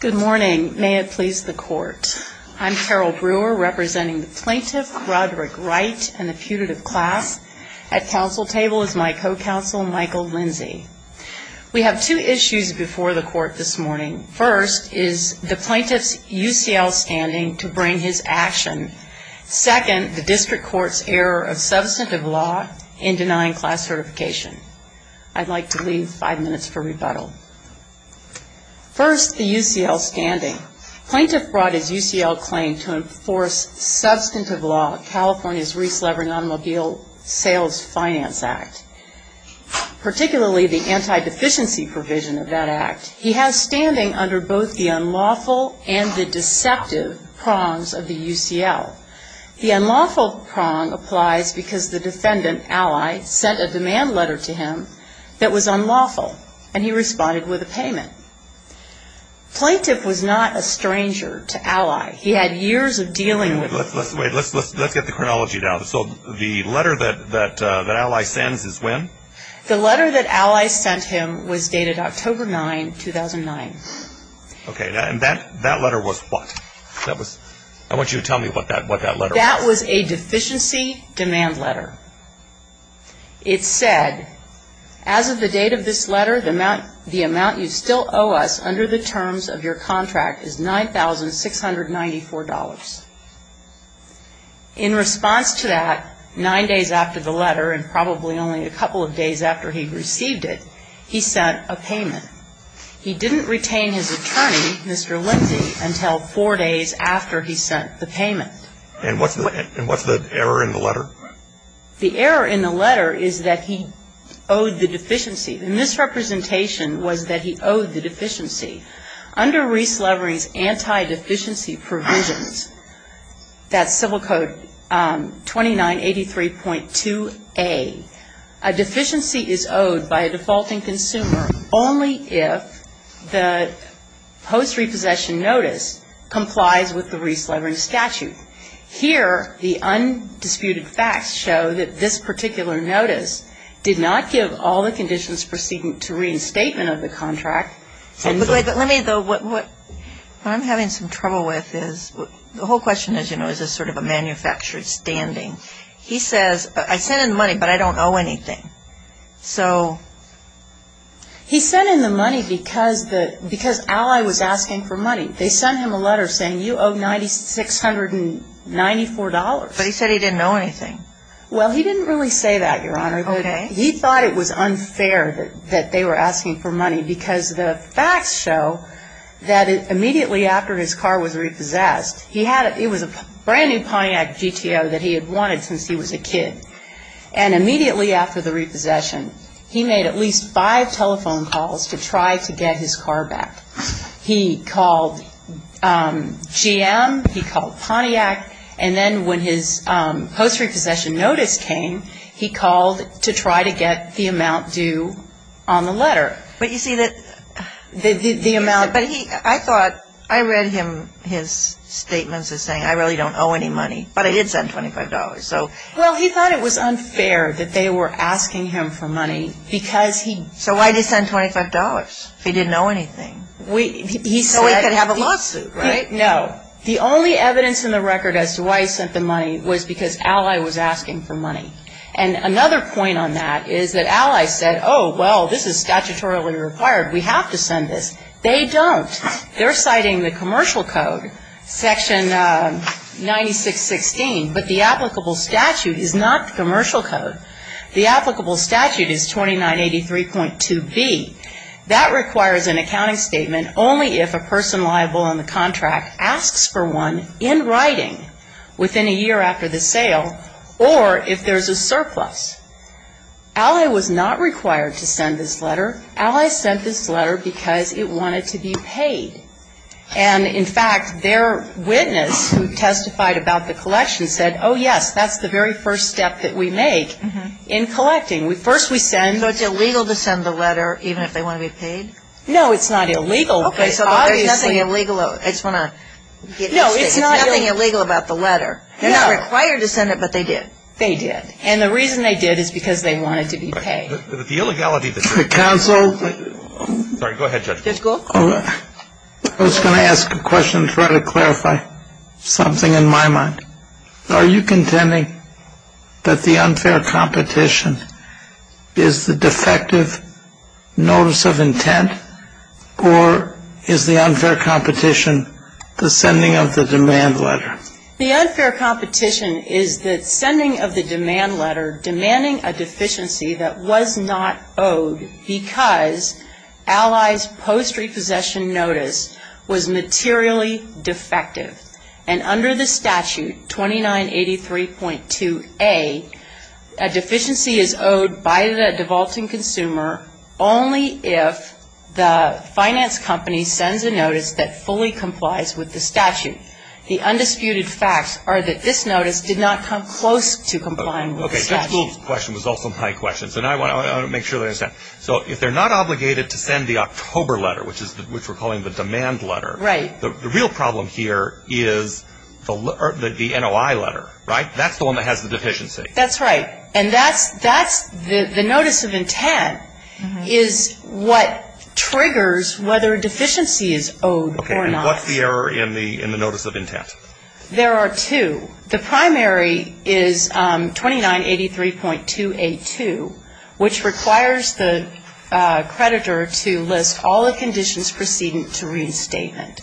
Good morning. May it please the court. I'm Carol Brewer, representing the plaintiff, Roderick Wright, and the putative class. At council table is my co-counsel, Michael Lindsey. We have two issues before the court this morning. First is the plaintiff's UCL standing to bring his action. Second, the district court's error of substantive law in denying class certification. I'd like to leave five minutes for rebuttal. First, the UCL standing. Plaintiff brought his UCL claim to enforce substantive law, California's Re-Slavery and Automobile Sales Finance Act, particularly the anti-deficiency provision of that act. He has standing under both the unlawful and the deceptive prongs of the UCL. The unlawful prong applies because the defendant, Ally, sent a demand letter to him that was unlawful, and he responded with a payment. Plaintiff was not a stranger to Ally. He had years of dealing with her. Let's get the chronology down. So the letter that Ally sends is when? The letter that Ally sent him was dated October 9, 2009. Okay. And that letter was what? I want you to tell me what that letter was. That was a deficiency demand letter. It said, as of the date of this letter, the amount you still owe us under the terms of your contract is $9,694. In response to that, nine days after the letter and probably only a couple of days after he received it, he sent a payment. He didn't retain his attorney, Mr. Lindsey, until four days after he sent the payment. And what's the error in the letter? The error in the letter is that he owed the deficiency. The misrepresentation was that he owed the deficiency. Under Reese Levering's anti-deficiency provisions, that's Civil Code 2983.2a, a deficiency is owed by a defaulting consumer only if the post-repossession notice complies with the Reese Levering statute. Here, the undisputed facts show that this particular notice did not give all the conditions preceding to reinstatement of the contract. But let me, though, what I'm having some trouble with is, the whole question is, you know, is this sort of a manufactured standing? He says, I sent in the money, but I don't owe anything. So... He sent in the money because Ally was asking for money. They sent him a letter saying, you owe $9,694. But he said he didn't owe anything. Well, he didn't really say that, Your Honor. Okay. He thought it was unfair that they were asking for money, because the facts show that immediately after his car was repossessed, he had a, it was a brand-new Pontiac GTO that he had wanted since he was a kid. And immediately after the repossession, he made at least five telephone calls to try to get his car back. He called GM, he called Pontiac, and then when his post-repossession notice came, he called to try to get the amount due on the letter. But you see that... The amount... But he, I thought, I read him, his statements as saying, I really don't owe any money, but I did send $25, so... Well, he thought it was unfair that they were asking him for money, because he... So why did he send $25 if he didn't owe anything? He said... So he could have a lawsuit, right? No. The only evidence in the record as to why he sent the money was because Ally was asking for money. And another point on that is that Ally said, oh, well, this is statutorily required. We have to send this. They don't. They're citing the commercial code, Section 9616, but the applicable statute is not the commercial code. The applicable statute is 2983.2b. That requires an accounting statement only if a person liable in the contract asks for one in writing within a year after the sale, or if there's a surplus. Ally was not required to send this letter. Ally sent this letter because it wanted to be paid. And, in fact, their witness who testified about the collection said, oh, yes, that's the very first step that we make in collecting. First we send... So it's illegal to send the letter even if they want to be paid? No, it's not illegal. Okay, so there's nothing illegal. No, it's not illegal. There's nothing illegal about the letter. They're not required to send it, but they did. They did. And the reason they did is because they wanted to be paid. The illegality... Counsel. Sorry. Go ahead, Judge. I was going to ask a question to try to clarify something in my mind. Are you contending that the unfair competition is the defective notice of intent, or is the unfair competition the sending of the demand letter? The unfair competition is the sending of the demand letter demanding a deficiency that was not owed because Allies' post-repossession notice was materially defective. And under the statute 2983.2a, a deficiency is owed by the devolting consumer only if the finance company sends a notice that fully complies with the statute. The undisputed facts are that this notice did not come close to complying with the statute. Okay, Judge, this question was also my question, so now I want to make sure that I understand. So if they're not obligated to send the October letter, which we're calling the demand letter, the real problem here is the NOI letter, right? That's the one that has the deficiency. That's right. And that's the notice of intent is what triggers whether a deficiency is owed or not. Okay, and what's the error in the notice of intent? There are two. The primary is 2983.282, which requires the creditor to list all the conditions preceding to reinstatement.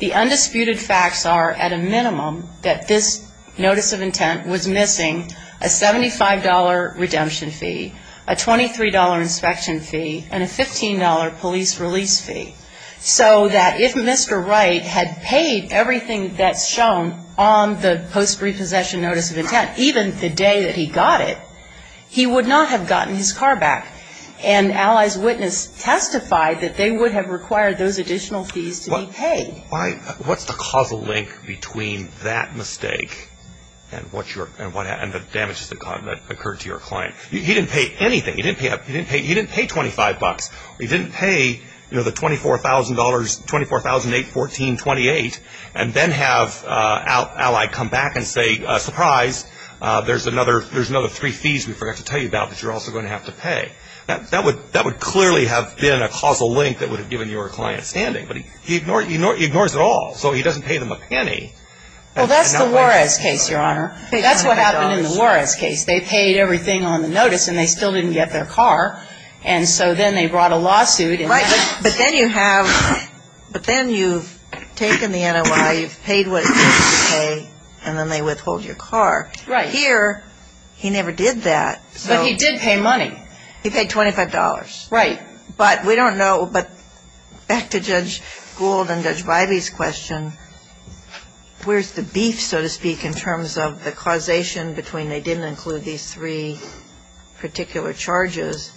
The undisputed facts are, at a minimum, that this notice of intent was missing a $75 redemption fee, a $23 inspection fee, and a $15 police release fee, so that if Mr. Wright had paid everything that's shown on the post-repossession notice of intent, even the day that he got it, he would not have gotten his car back. And Allies Witness testified that they would have required those additional fees to be paid. What's the causal link between that mistake and the damages that occurred to your client? He didn't pay anything. He didn't pay $25. He didn't pay, you know, the $24,000, $24,814.28 and then have Ally come back and say, surprise, there's another three fees we forgot to tell you about that you're also going to have to pay. That would clearly have been a causal link that would have given your client standing. But he ignores it all. So he doesn't pay them a penny. Well, that's the Juarez case, Your Honor. That's what happened in the Juarez case. They paid everything on the notice, and they still didn't get their car. And so then they brought a lawsuit. Right. But then you have, but then you've taken the NOI, you've paid what it took to pay, and then they withhold your car. Right. Here, he never did that. But he did pay money. He paid $25. Right. But we don't know. But back to Judge Gould and Judge Bybee's question, where's the beef, so to speak, in terms of the causation between they didn't include these three particular charges.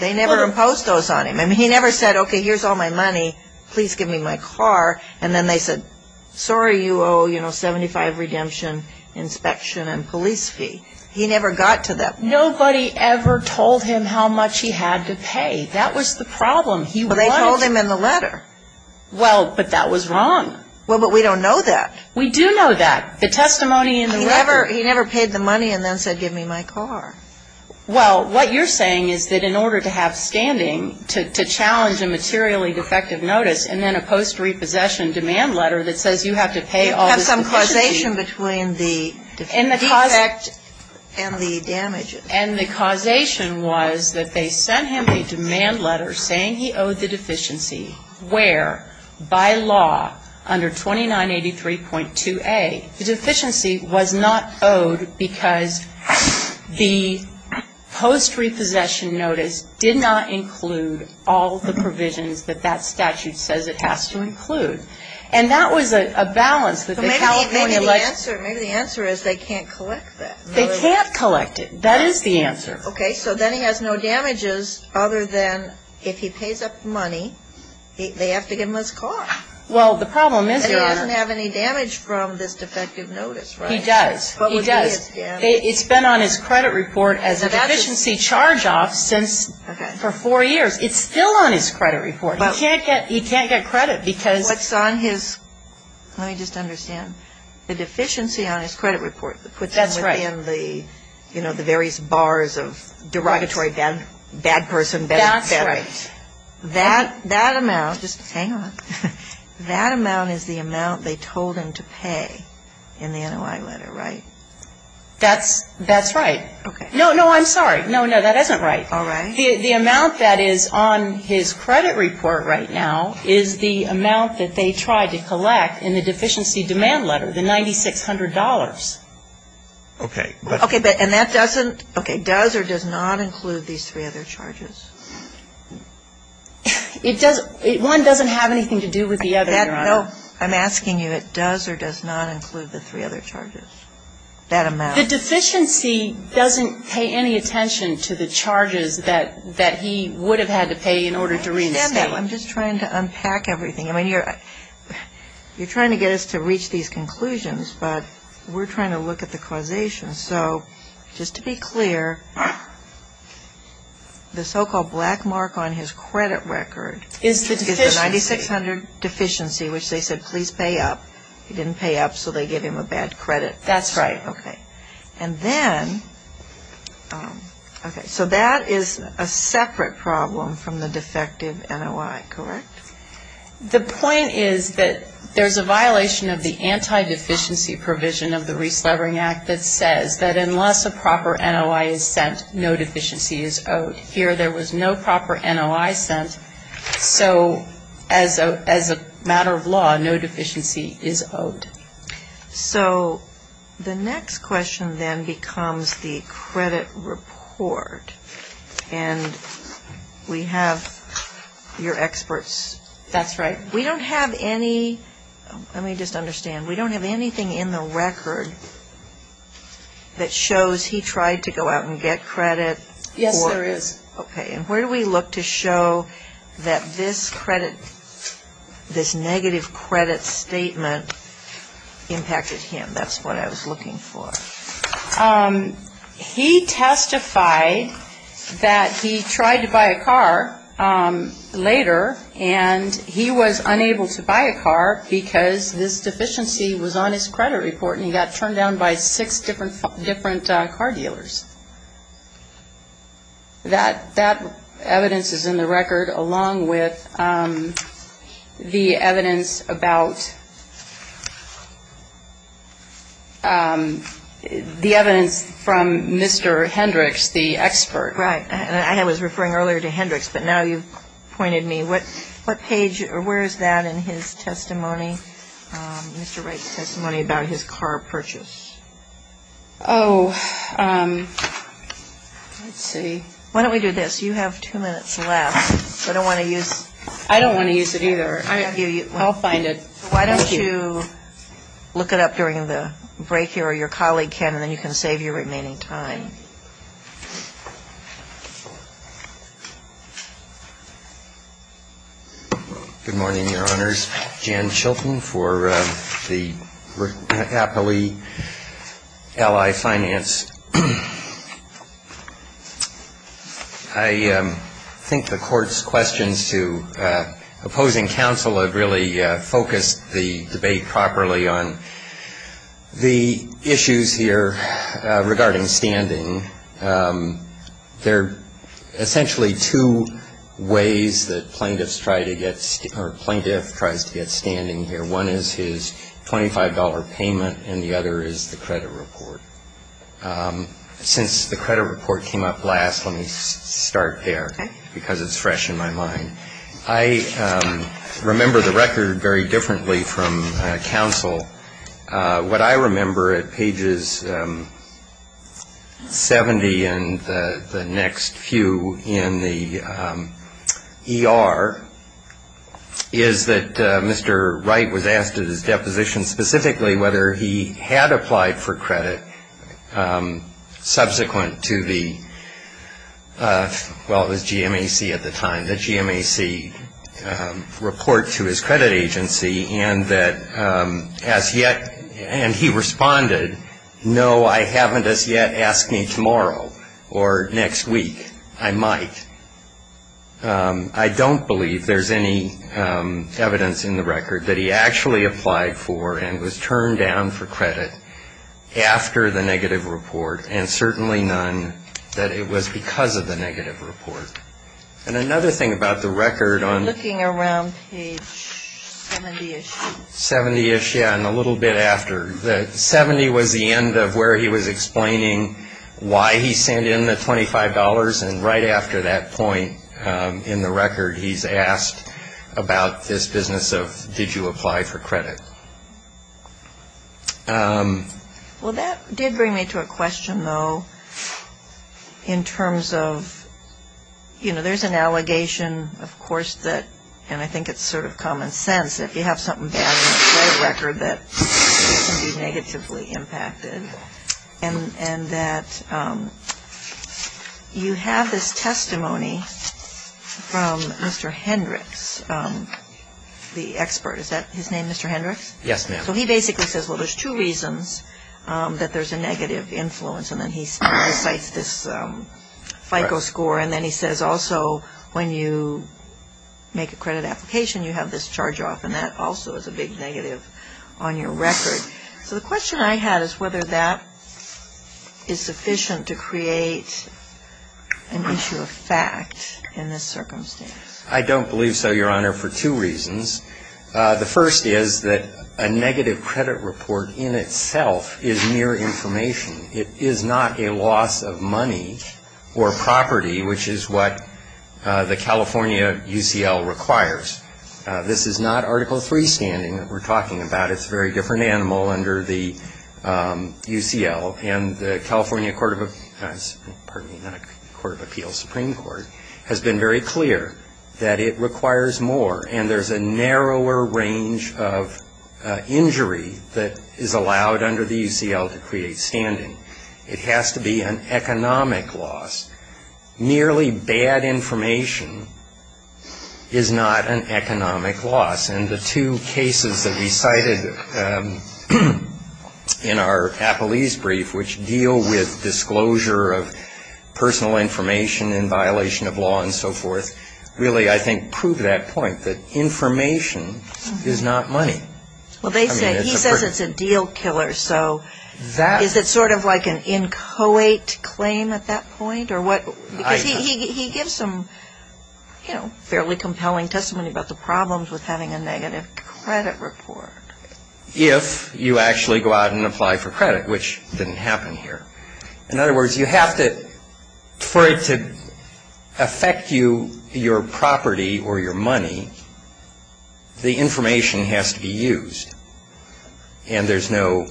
They never imposed those on him. I mean, he never said, okay, here's all my money, please give me my car. And then they said, sorry, you owe, you know, 75 redemption, inspection, and police fee. He never got to that point. Nobody ever told him how much he had to pay. That was the problem. But they told him in the letter. Well, but that was wrong. Well, but we don't know that. We do know that. The testimony in the letter. He never paid the money and then said give me my car. Well, what you're saying is that in order to have standing, to challenge a materially defective notice, and then a post-repossession demand letter that says you have to pay all this deficiency. You have some causation between the defect and the damages. And the causation was that they sent him a demand letter saying he owed the deficiency, where, by law, under 2983.2a, the deficiency was not owed because the post-repossession notice did not include all the provisions that that statute says it has to include. And that was a balance that the California legislature. Maybe the answer is they can't collect that. They can't collect it. That is the answer. Okay, so then he has no damages other than if he pays up money, they have to give him his car. Well, the problem is. And he doesn't have any damage from this defective notice, right? He does. He does. It's been on his credit report as a deficiency charge-off for four years. It's still on his credit report. He can't get credit because. What's on his. Let me just understand. The deficiency on his credit report. That's right. You know, the various bars of derogatory bad person. That's right. That amount. Hang on. That amount is the amount they told him to pay in the NOI letter, right? That's right. Okay. No, no, I'm sorry. No, no, that isn't right. All right. The amount that is on his credit report right now is the amount that they tried to collect in the deficiency demand letter, the $9,600. Okay. Okay. And that doesn't, okay, does or does not include these three other charges? One doesn't have anything to do with the other, Your Honor. No. I'm asking you, it does or does not include the three other charges? That amount. The deficiency doesn't pay any attention to the charges that he would have had to pay in order to reinstate. I'm just trying to unpack everything. I mean, you're trying to get us to reach these conclusions. But we're trying to look at the causation. So just to be clear, the so-called black mark on his credit record is the $9,600 deficiency, which they said please pay up. He didn't pay up, so they gave him a bad credit. That's right. Okay. And then, okay, so that is a separate problem from the defective NOI, correct? The point is that there's a violation of the anti-deficiency provision of the Reslevering Act that says that unless a proper NOI is sent, no deficiency is owed. Here there was no proper NOI sent, so as a matter of law, no deficiency is owed. So the next question then becomes the credit report. And we have your experts. That's right. We don't have any, let me just understand, we don't have anything in the record that shows he tried to go out and get credit. Yes, there is. Okay. And where do we look to show that this credit, this negative credit statement impacted him? That's what I was looking for. He testified that he tried to buy a car later, and he was unable to buy a car because this deficiency was on his credit report, and he got turned down by six different car dealers. That evidence is in the record along with the evidence about, the evidence from Mr. Hendricks, the expert. Right. I was referring earlier to Hendricks, but now you've pointed me. What page or where is that in his testimony, Mr. Wright's testimony about his car purchase? Oh, let's see. Why don't we do this? You have two minutes left. I don't want to use. I don't want to use it either. I'll find it. Why don't you look it up during the break here or your colleague can, and then you can save your remaining time. Good morning, Your Honors. My name is Jan Chilton for the Appley Ally Finance. I think the Court's questions to opposing counsel have really focused the debate properly on the issues here regarding standing. There are essentially two ways that plaintiffs try to get, or a plaintiff tries to get standing here. One is his $25 payment, and the other is the credit report. Since the credit report came up last, let me start there because it's fresh in my mind. I remember the record very differently from counsel. What I remember at pages 70 and the next few in the ER is that Mr. Wright was asked at his deposition specifically whether he had applied for credit subsequent to the, well, it was GMAC at the time, the GMAC report to his credit agency, and that as yet, and he responded, no, I haven't as yet. Ask me tomorrow or next week. I might. I don't believe there's any evidence in the record that he actually applied for and was turned down for credit after the negative report, and certainly none that it was because of the negative report. And another thing about the record on... Looking around page 70-ish. 70-ish, yeah, and a little bit after. The 70 was the end of where he was explaining why he sent in the $25, and right after that point in the record he's asked about this business of did you apply for credit. Well, that did bring me to a question, though, in terms of, you know, there's an allegation, of course, that, and I think it's sort of common sense, if you have something bad in the credit record that can be negatively impacted, and that you have this testimony from Mr. Hendricks, the expert. Is that his name, Mr. Hendricks? Yes, ma'am. So he basically says, well, there's two reasons that there's a negative influence, and then he cites this FICO score, and then he says also when you make a credit application you have this charge-off, and that also is a big negative on your record. So the question I had is whether that is sufficient to create an issue of fact in this circumstance. I don't believe so, Your Honor, for two reasons. The first is that a negative credit report in itself is mere information. It is not a loss of money or property, which is what the California UCL requires. This is not Article III standing that we're talking about. It's a very different animal under the UCL, and the California Court of Appeals, pardon me, not Court of Appeals, Supreme Court, has been very clear that it requires more, and there's a narrower range of injury that is allowed under the UCL to create standing. It has to be an economic loss. Merely bad information is not an economic loss, and the two cases that we cited in our Appleese brief, which deal with disclosure of personal information in violation of law and so forth, really, I think, prove that point, that information is not money. Well, he says it's a deal killer, so is it sort of like an inchoate claim at that point? Because he gives some fairly compelling testimony about the problems with having a negative credit report. If you actually go out and apply for credit, which didn't happen here. In other words, you have to, for it to affect you, your property or your money, the information has to be used, and there's no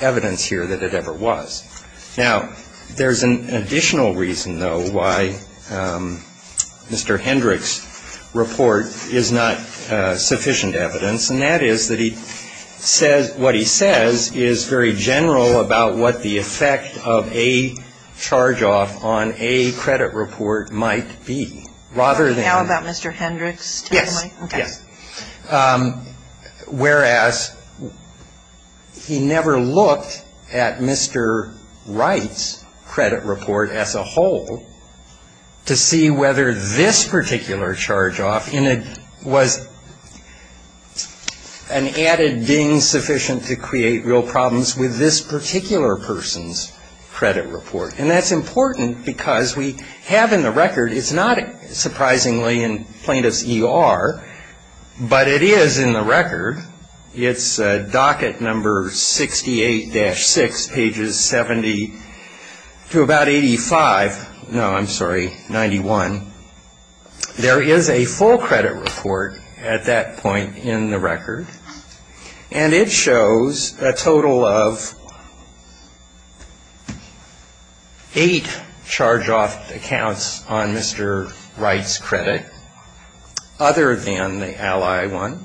evidence here that it ever was. Now, there's an additional reason, though, why Mr. Hendrick's report is not sufficient evidence, and that is that what he says is very general about what the effect of a charge-off on a credit report might be. Now about Mr. Hendrick's testimony? Yes. Whereas he never looked at Mr. Wright's credit report as a whole to see whether this particular charge-off was an added being sufficient to create real problems with this particular person's credit report. And that's important because we have in the record, it's not surprisingly in plaintiff's ER, but it is in the record. It's docket number 68-6, pages 70 to about 85, no, I'm sorry, 91. There is a full credit report at that point in the record, and it shows a total of eight charge-off accounts on Mr. Wright's credit other than the Ally one,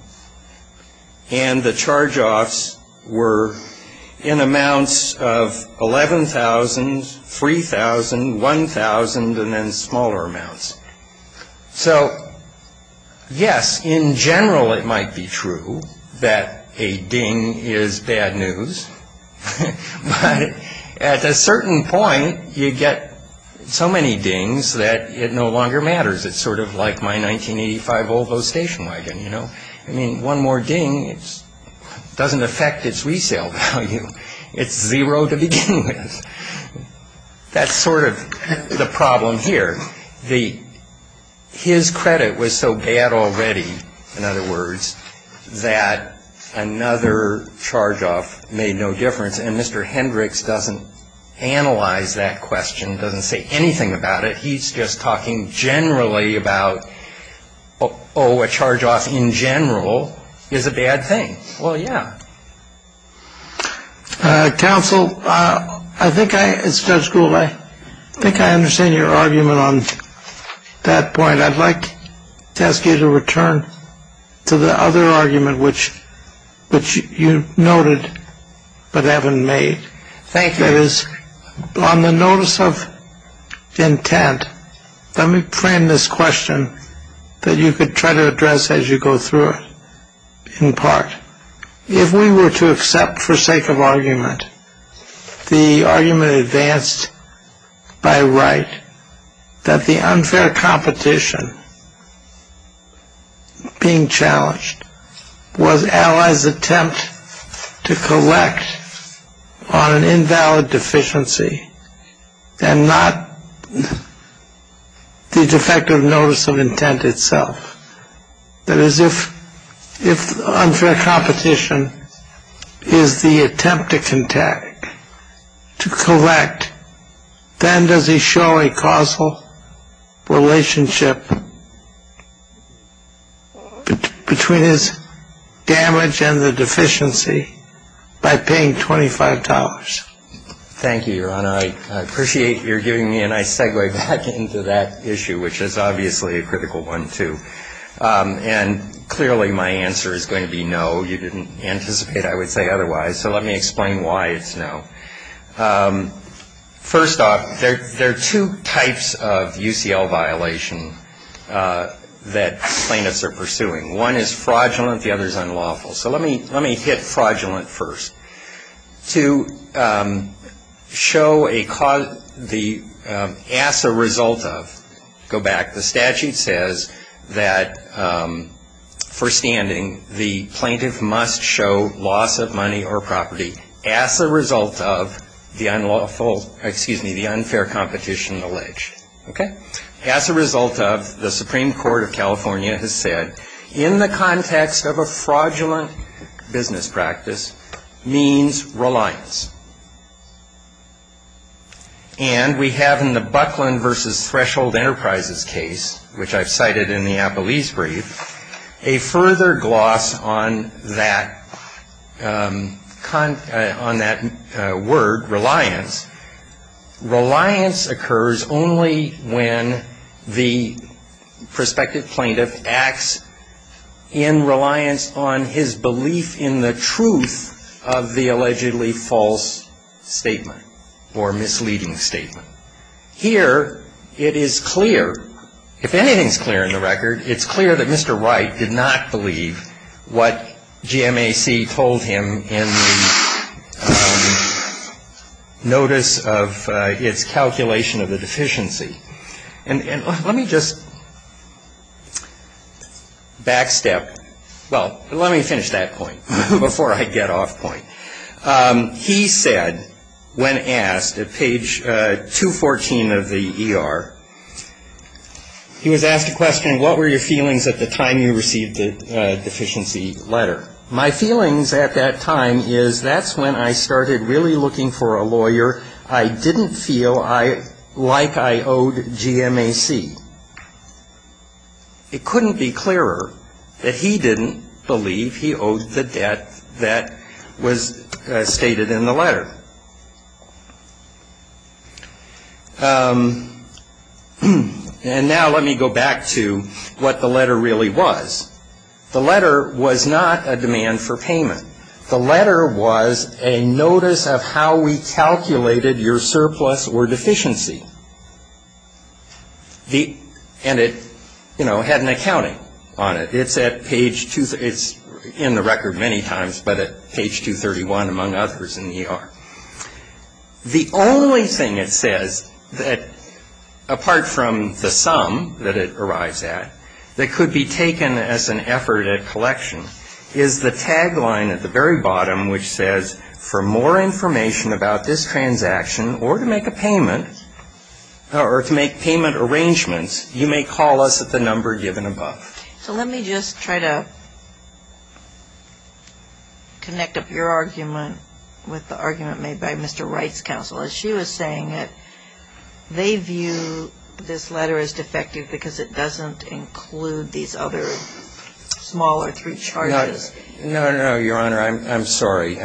and the charge-offs were in amounts of 11,000, 3,000, 1,000, and then smaller amounts. So, yes, in general it might be true that a ding is bad news, but at a certain point you get so many dings that it no longer matters. It's sort of like my 1985 Volvo station wagon, you know. I mean, one more ding doesn't affect its resale value. It's zero to begin with. That's sort of the problem here. His credit was so bad already, in other words, that another charge-off made no difference, and Mr. Hendricks doesn't analyze that question, doesn't say anything about it. He's just talking generally about, oh, a charge-off in general is a bad thing. Well, yeah. Counsel, I think I, as Judge Gould, I think I understand your argument on that point. I'd like to ask you to return to the other argument which you noted but haven't made. Thank you. On the notice of intent, let me frame this question that you could try to address as you go through it, in part. If we were to accept for sake of argument the argument advanced by right that the unfair competition being challenged was Allies' attempt to collect on an invalid deficiency and not the defective notice of intent itself, that is if unfair competition is the attempt to collect, then does he show a causal relationship between his damage and the deficiency by paying $25? Thank you, Your Honor. I appreciate your giving me a nice segue back into that issue, which is obviously a critical one, too. And clearly my answer is going to be no. Well, you didn't anticipate I would say otherwise, so let me explain why it's no. First off, there are two types of UCL violation that plaintiffs are pursuing. One is fraudulent. The other is unlawful. So let me hit fraudulent first. To ask a result of, go back. The statute says that, first standing, the plaintiff must show loss of money or property as a result of the unfair competition alleged. As a result of, the Supreme Court of California has said, in the context of a fraudulent business practice, means reliance. And we have in the Buckland v. Threshold Enterprises case, which I've cited in the Appleese brief, a further gloss on that word, reliance. Reliance occurs only when the prospective plaintiff acts in reliance on his belief in the truth of the allegedly false statement or misleading statement. Here it is clear, if anything is clear in the record, it's clear that Mr. Wright did not believe what GMAC told him in the notice of its calculation of the deficiency. And let me just back step. Well, let me finish that point before I get off point. He said, when asked, at page 214 of the ER, he was asked a question, what were your feelings at the time you received the deficiency letter? My feelings at that time is that's when I started really looking for a lawyer. I didn't feel like I owed GMAC. It couldn't be clearer that he didn't believe he owed the debt that was stated in the letter. And now let me go back to what the letter really was. The letter was not a demand for payment. The letter was a notice of how we calculated your surplus or deficiency. And it, you know, had an accounting on it. It's in the record many times, but at page 231 among others in the ER. The only thing it says that, apart from the sum that it arrives at, that could be taken as an effort at collection is the tagline at the very bottom, which says, for more information about this transaction or to make a payment or to make payment arrangements, you may call us at the number given above. So let me just try to connect up your argument with the argument made by Mr. Wright's counsel. She was saying that they view this letter as defective because it doesn't include these other smaller three charges. No, no, no, Your Honor. I'm sorry.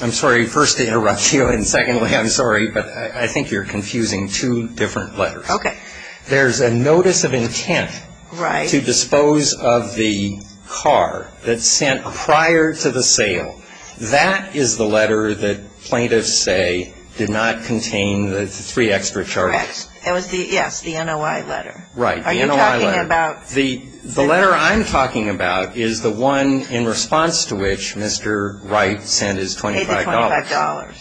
I'm sorry first to interrupt you and secondly I'm sorry, but I think you're confusing two different letters. Okay. There's a notice of intent to dispose of the car that's sent prior to the sale. That is the letter that plaintiffs say did not contain the three extra charges. Yes, the NOI letter. Right. The NOI letter. The letter I'm talking about is the one in response to which Mr. Wright sent his $25. He paid the $25.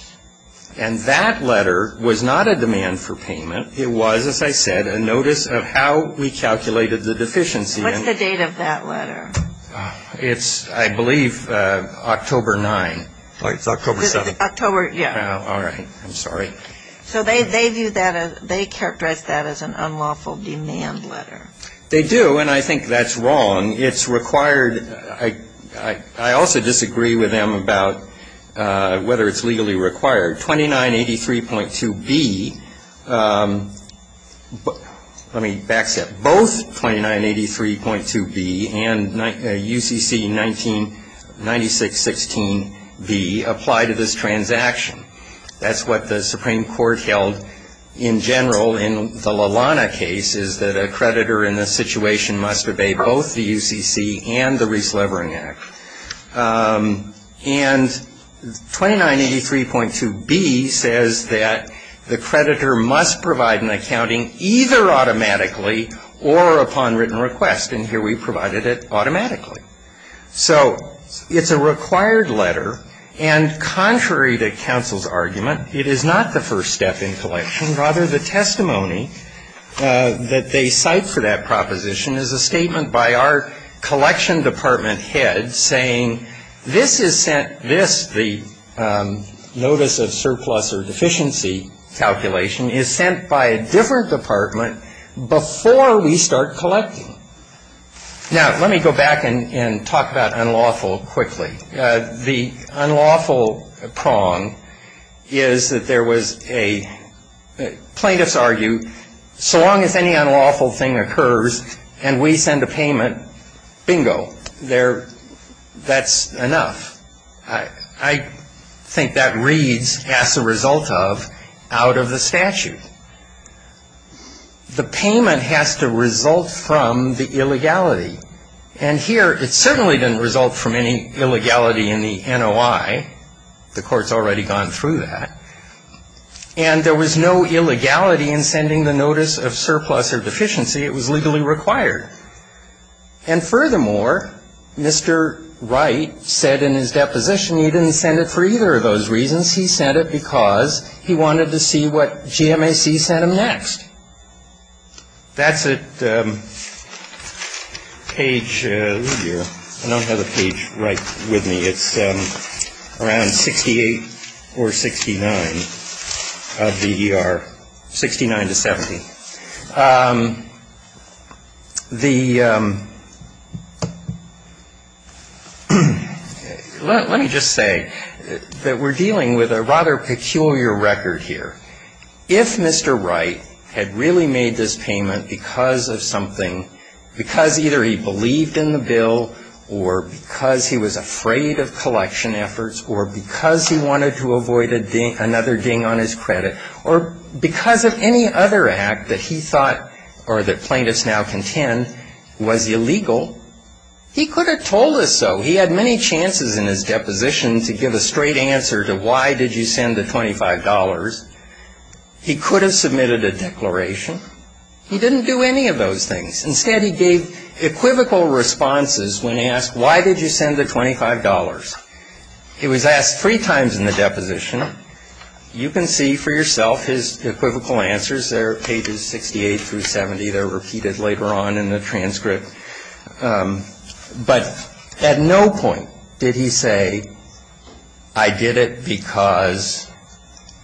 And that letter was not a demand for payment. It was, as I said, a notice of how we calculated the deficiency. What's the date of that letter? It's, I believe, October 9th. It's October 7th. October, yeah. All right. I'm sorry. So they view that as, they characterize that as an unlawful demand letter. They do, and I think that's wrong. It's required, I also disagree with them about whether it's legally required. 2983.2B, let me back step. Both 2983.2B and UCC 9616B apply to this transaction. That's what the Supreme Court held in general in the LaLana case, is that a creditor in this situation must obey both the UCC and the Reese Levering Act. And 2983.2B says that the creditor must provide an accounting either automatically or upon written request. And here we provided it automatically. So it's a required letter, and contrary to counsel's argument, it is not the first step in collection. This, the notice of surplus or deficiency calculation, is sent by a different department before we start collecting. Now, let me go back and talk about unlawful quickly. The unlawful prong is that there was a, plaintiffs argue, so long as any unlawful thing occurs and we send a payment, bingo. That's enough. I think that reads, as a result of, out of the statute. The payment has to result from the illegality. And here, it certainly didn't result from any illegality in the NOI. The court's already gone through that. And there was no illegality in sending the notice of surplus or deficiency. It was legally required. And furthermore, Mr. Wright said in his deposition he didn't send it for either of those reasons. He sent it because he wanted to see what GMAC sent him next. That's at page, I don't have the page right with me. It's around 68 or 69 of the ER, 69 to 70. The, let me just say that we're dealing with a rather peculiar record here. If Mr. Wright had really made this payment because of something, because either he believed in the bill or because he was afraid of collection efforts or because he wanted to avoid another ding on his credit or because of any other act that he thought or that plaintiffs now contend was illegal, he could have told us so. He had many chances in his deposition to give a straight answer to why did you send the $25. He could have submitted a declaration. He didn't do any of those things. Instead, he gave equivocal responses when asked why did you send the $25. It was asked three times in the deposition. You can see for yourself his equivocal answers. They're pages 68 through 70. They're repeated later on in the transcript. But at no point did he say I did it because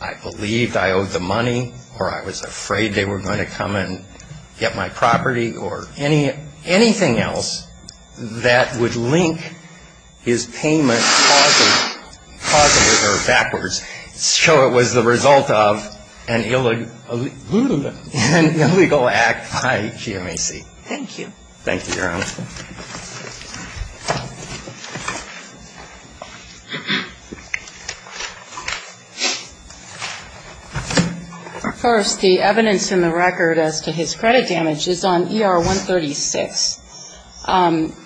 I believed I owed the money or I was afraid they were going to come and get my property or anything else that would link his payment positive or backwards, so it was the result of an illegal act by GMAC. Thank you. Thank you, Your Honor. Thank you. First, the evidence in the record as to his credit damage is on ER 136.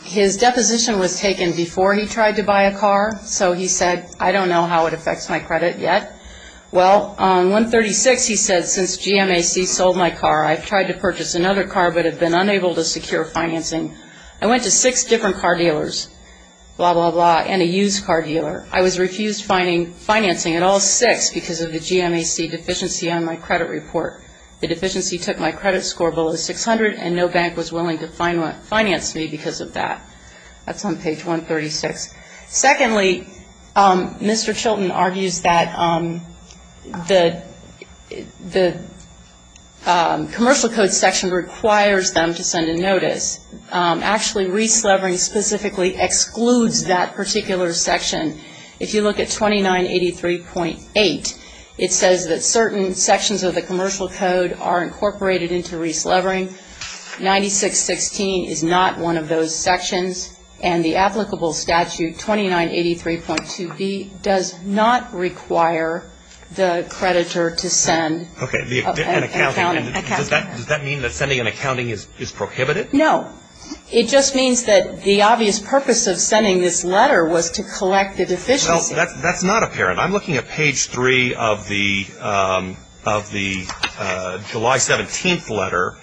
His deposition was taken before he tried to buy a car, so he said I don't know how it affects my credit yet. Well, on 136 he said since GMAC sold my car, I've tried to purchase another car but have been unable to secure financing. I went to six different car dealers, blah, blah, blah, and a used car dealer. I was refused financing at all six because of the GMAC deficiency on my credit report. The deficiency took my credit score below 600, and no bank was willing to finance me because of that. That's on page 136. Secondly, Mr. Chilton argues that the commercial code section requires them to send a notice. Actually, Reese Levering specifically excludes that particular section. If you look at 2983.8, it says that certain sections of the commercial code are incorporated into Reese Levering. 9616 is not one of those sections, and the applicable statute, 2983.2b, does not require the creditor to send an accounting. Does that mean that sending an accounting is prohibited? No. It just means that the obvious purpose of sending this letter was to collect the deficiency. Well, that's not apparent. I'm looking at page 3 of the July 17th letter,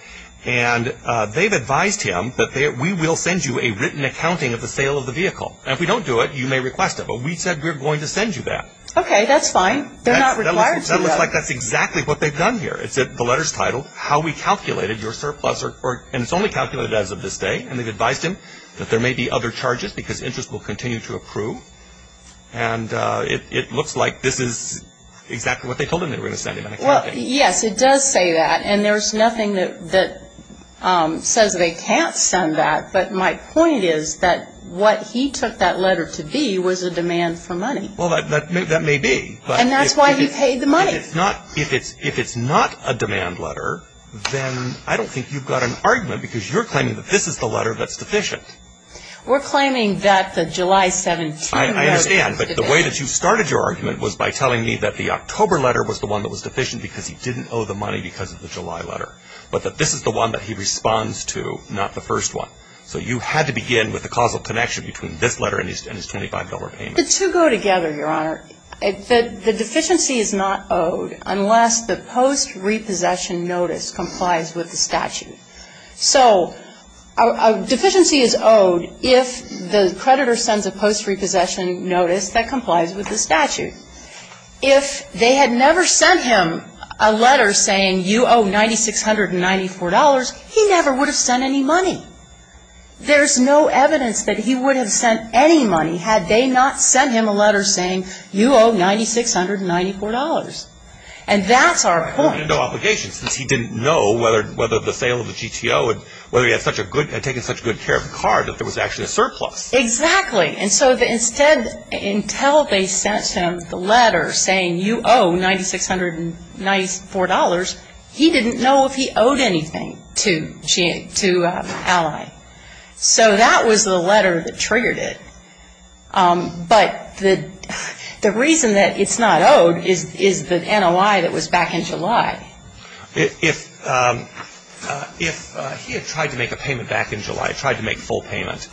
and they've advised him that we will send you a written accounting of the sale of the vehicle. And if we don't do it, you may request it. But we said we're going to send you that. Okay, that's fine. They're not required to do that. That looks like that's exactly what they've done here. It's in the letter's title, how we calculated your surplus, and it's only calculated as of this day. And they've advised him that there may be other charges because interest will continue to approve. And it looks like this is exactly what they told him they were going to send him, an accounting. Well, yes, it does say that. And there's nothing that says they can't send that. But my point is that what he took that letter to be was a demand for money. Well, that may be. And that's why he paid the money. If it's not a demand letter, then I don't think you've got an argument because you're claiming that this is the letter that's deficient. We're claiming that the July 17 letter is deficient. I understand, but the way that you started your argument was by telling me that the October letter was the one that was deficient because he didn't owe the money because of the July letter, but that this is the one that he responds to, not the first one. So you had to begin with the causal connection between this letter and his $25 payment. The two go together, Your Honor. The deficiency is not owed unless the post-repossession notice complies with the statute. So a deficiency is owed if the creditor sends a post-repossession notice that complies with the statute. If they had never sent him a letter saying you owe $9,694, he never would have sent any money. There's no evidence that he would have sent any money had they not sent him a letter saying you owe $9,694. And that's our point. He had no obligation since he didn't know whether the sale of the GTO and whether he had taken such good care of the car that there was actually a surplus. Exactly. And so instead until they sent him the letter saying you owe $9,694, he didn't know if he owed anything to Ally. So that was the letter that triggered it. But the reason that it's not owed is the NOI that was back in July. If he had tried to make a payment back in July, tried to make full payment,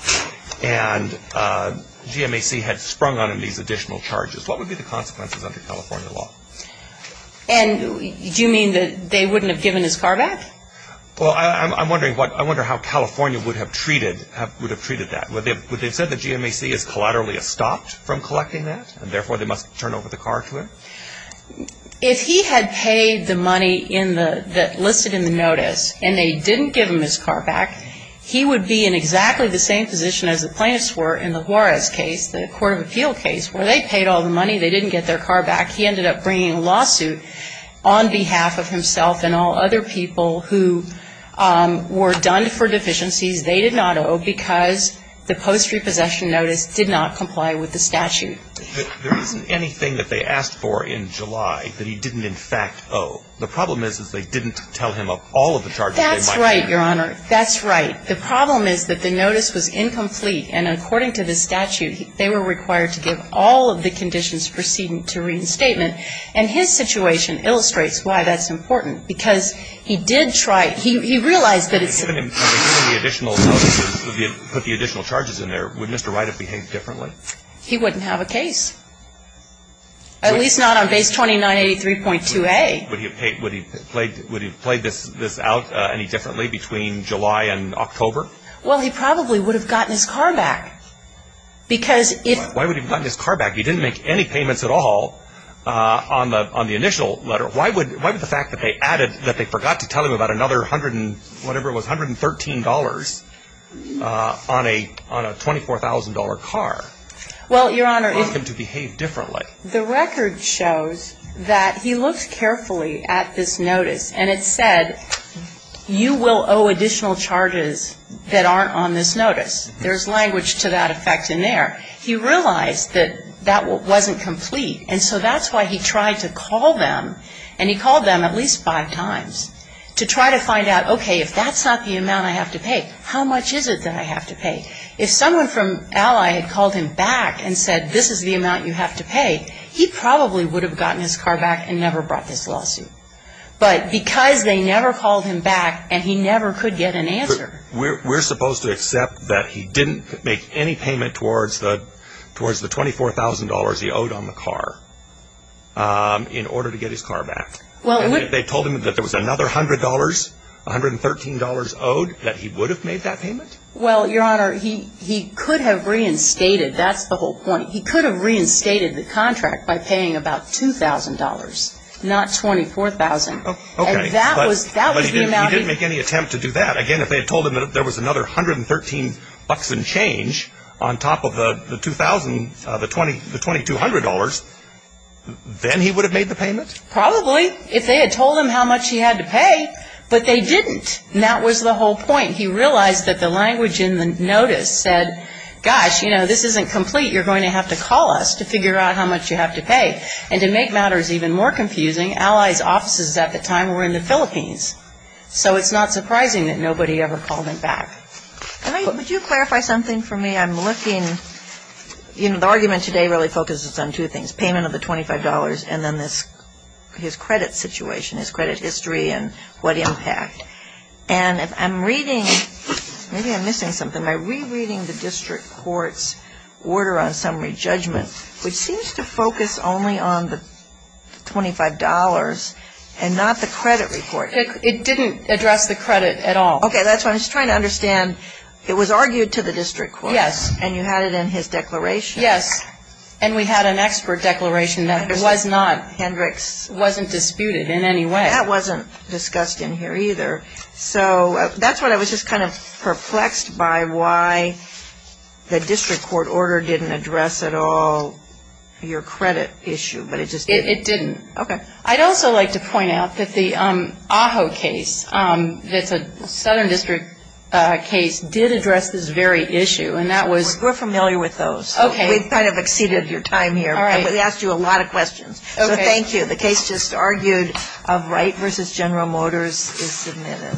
and GMAC had sprung on him these additional charges, what would be the consequences under California law? And do you mean that they wouldn't have given his car back? Well, I'm wondering how California would have treated that. Would they have said that GMAC has collaterally stopped from collecting that, and therefore they must turn over the car to him? If he had paid the money in the ñ that listed in the notice and they didn't give him his car back, he would be in exactly the same position as the plaintiffs were in the Juarez case, the court of appeal case, where they paid all the money, they didn't get their car back. He ended up bringing a lawsuit on behalf of himself and all other people who were done for deficiencies they did not owe because the post-repossession notice did not comply with the statute. There isn't anything that they asked for in July that he didn't in fact owe. The problem is, is they didn't tell him of all of the charges they might owe. That's right, Your Honor. That's right. The problem is that the notice was incomplete, and according to the statute, they were required to give all of the conditions preceding to reinstatement. And his situation illustrates why that's important, because he did try ñ he realized that it's ñ if they had given him the additional notices, put the additional charges in there, would Mr. Wright have behaved differently? He wouldn't have a case, at least not on Base 2983.2a. Would he have played this out any differently between July and October? Well, he probably would have gotten his car back because if ñ Why would he have gotten his car back? He didn't make any payments at all on the initial letter. Why would the fact that they added ñ that they forgot to tell him about another hundred and ñ whatever it was, $113 on a ñ on a $24,000 car cause him to behave differently? Well, Your Honor, the record shows that he looked carefully at this notice, and it said, you will owe additional charges that aren't on this notice. There's language to that effect in there. He realized that that wasn't complete, and so that's why he tried to call them and he called them at least five times to try to find out, okay, if that's not the amount I have to pay, how much is it that I have to pay? If someone from Ally had called him back and said, this is the amount you have to pay, he probably would have gotten his car back and never brought this lawsuit. But because they never called him back and he never could get an answer. We're supposed to accept that he didn't make any payment towards the ñ in order to get his car back. And if they told him that there was another $100, $113 owed, that he would have made that payment? Well, Your Honor, he could have reinstated ñ that's the whole point. He could have reinstated the contract by paying about $2,000, not $24,000. Okay. And that was ñ that was the amount he ñ But he didn't make any attempt to do that. Again, if they had told him that there was another $113 and change on top of the 2,000, the $2,200, then he would have made the payment? Probably. If they had told him how much he had to pay. But they didn't. And that was the whole point. He realized that the language in the notice said, gosh, you know, this isn't complete. You're going to have to call us to figure out how much you have to pay. And to make matters even more confusing, Ally's offices at the time were in the Philippines. So it's not surprising that nobody ever called him back. Would you clarify something for me? I'm looking ñ the argument today really focuses on two things, payment of the $25 and then this ñ his credit situation, his credit history and what impact. And I'm reading ñ maybe I'm missing something. Am I rereading the district court's order on summary judgment, which seems to focus only on the $25 and not the credit report? It didn't address the credit at all. Okay. That's what I'm trying to understand. It was argued to the district court. Yes. And you had it in his declaration. Yes. And we had an expert declaration that was not ñ wasn't disputed in any way. That wasn't discussed in here either. So that's what I was just kind of perplexed by, why the district court order didn't address at all your credit issue. But it just didn't. It didn't. Okay. I'd also like to point out that the Aho case, that's a southern district case, did address this very issue. And that was ñ We're familiar with those. Okay. We've kind of exceeded your time here. All right. But we asked you a lot of questions. Okay. So thank you. The case just argued of Wright v. General Motors is submitted.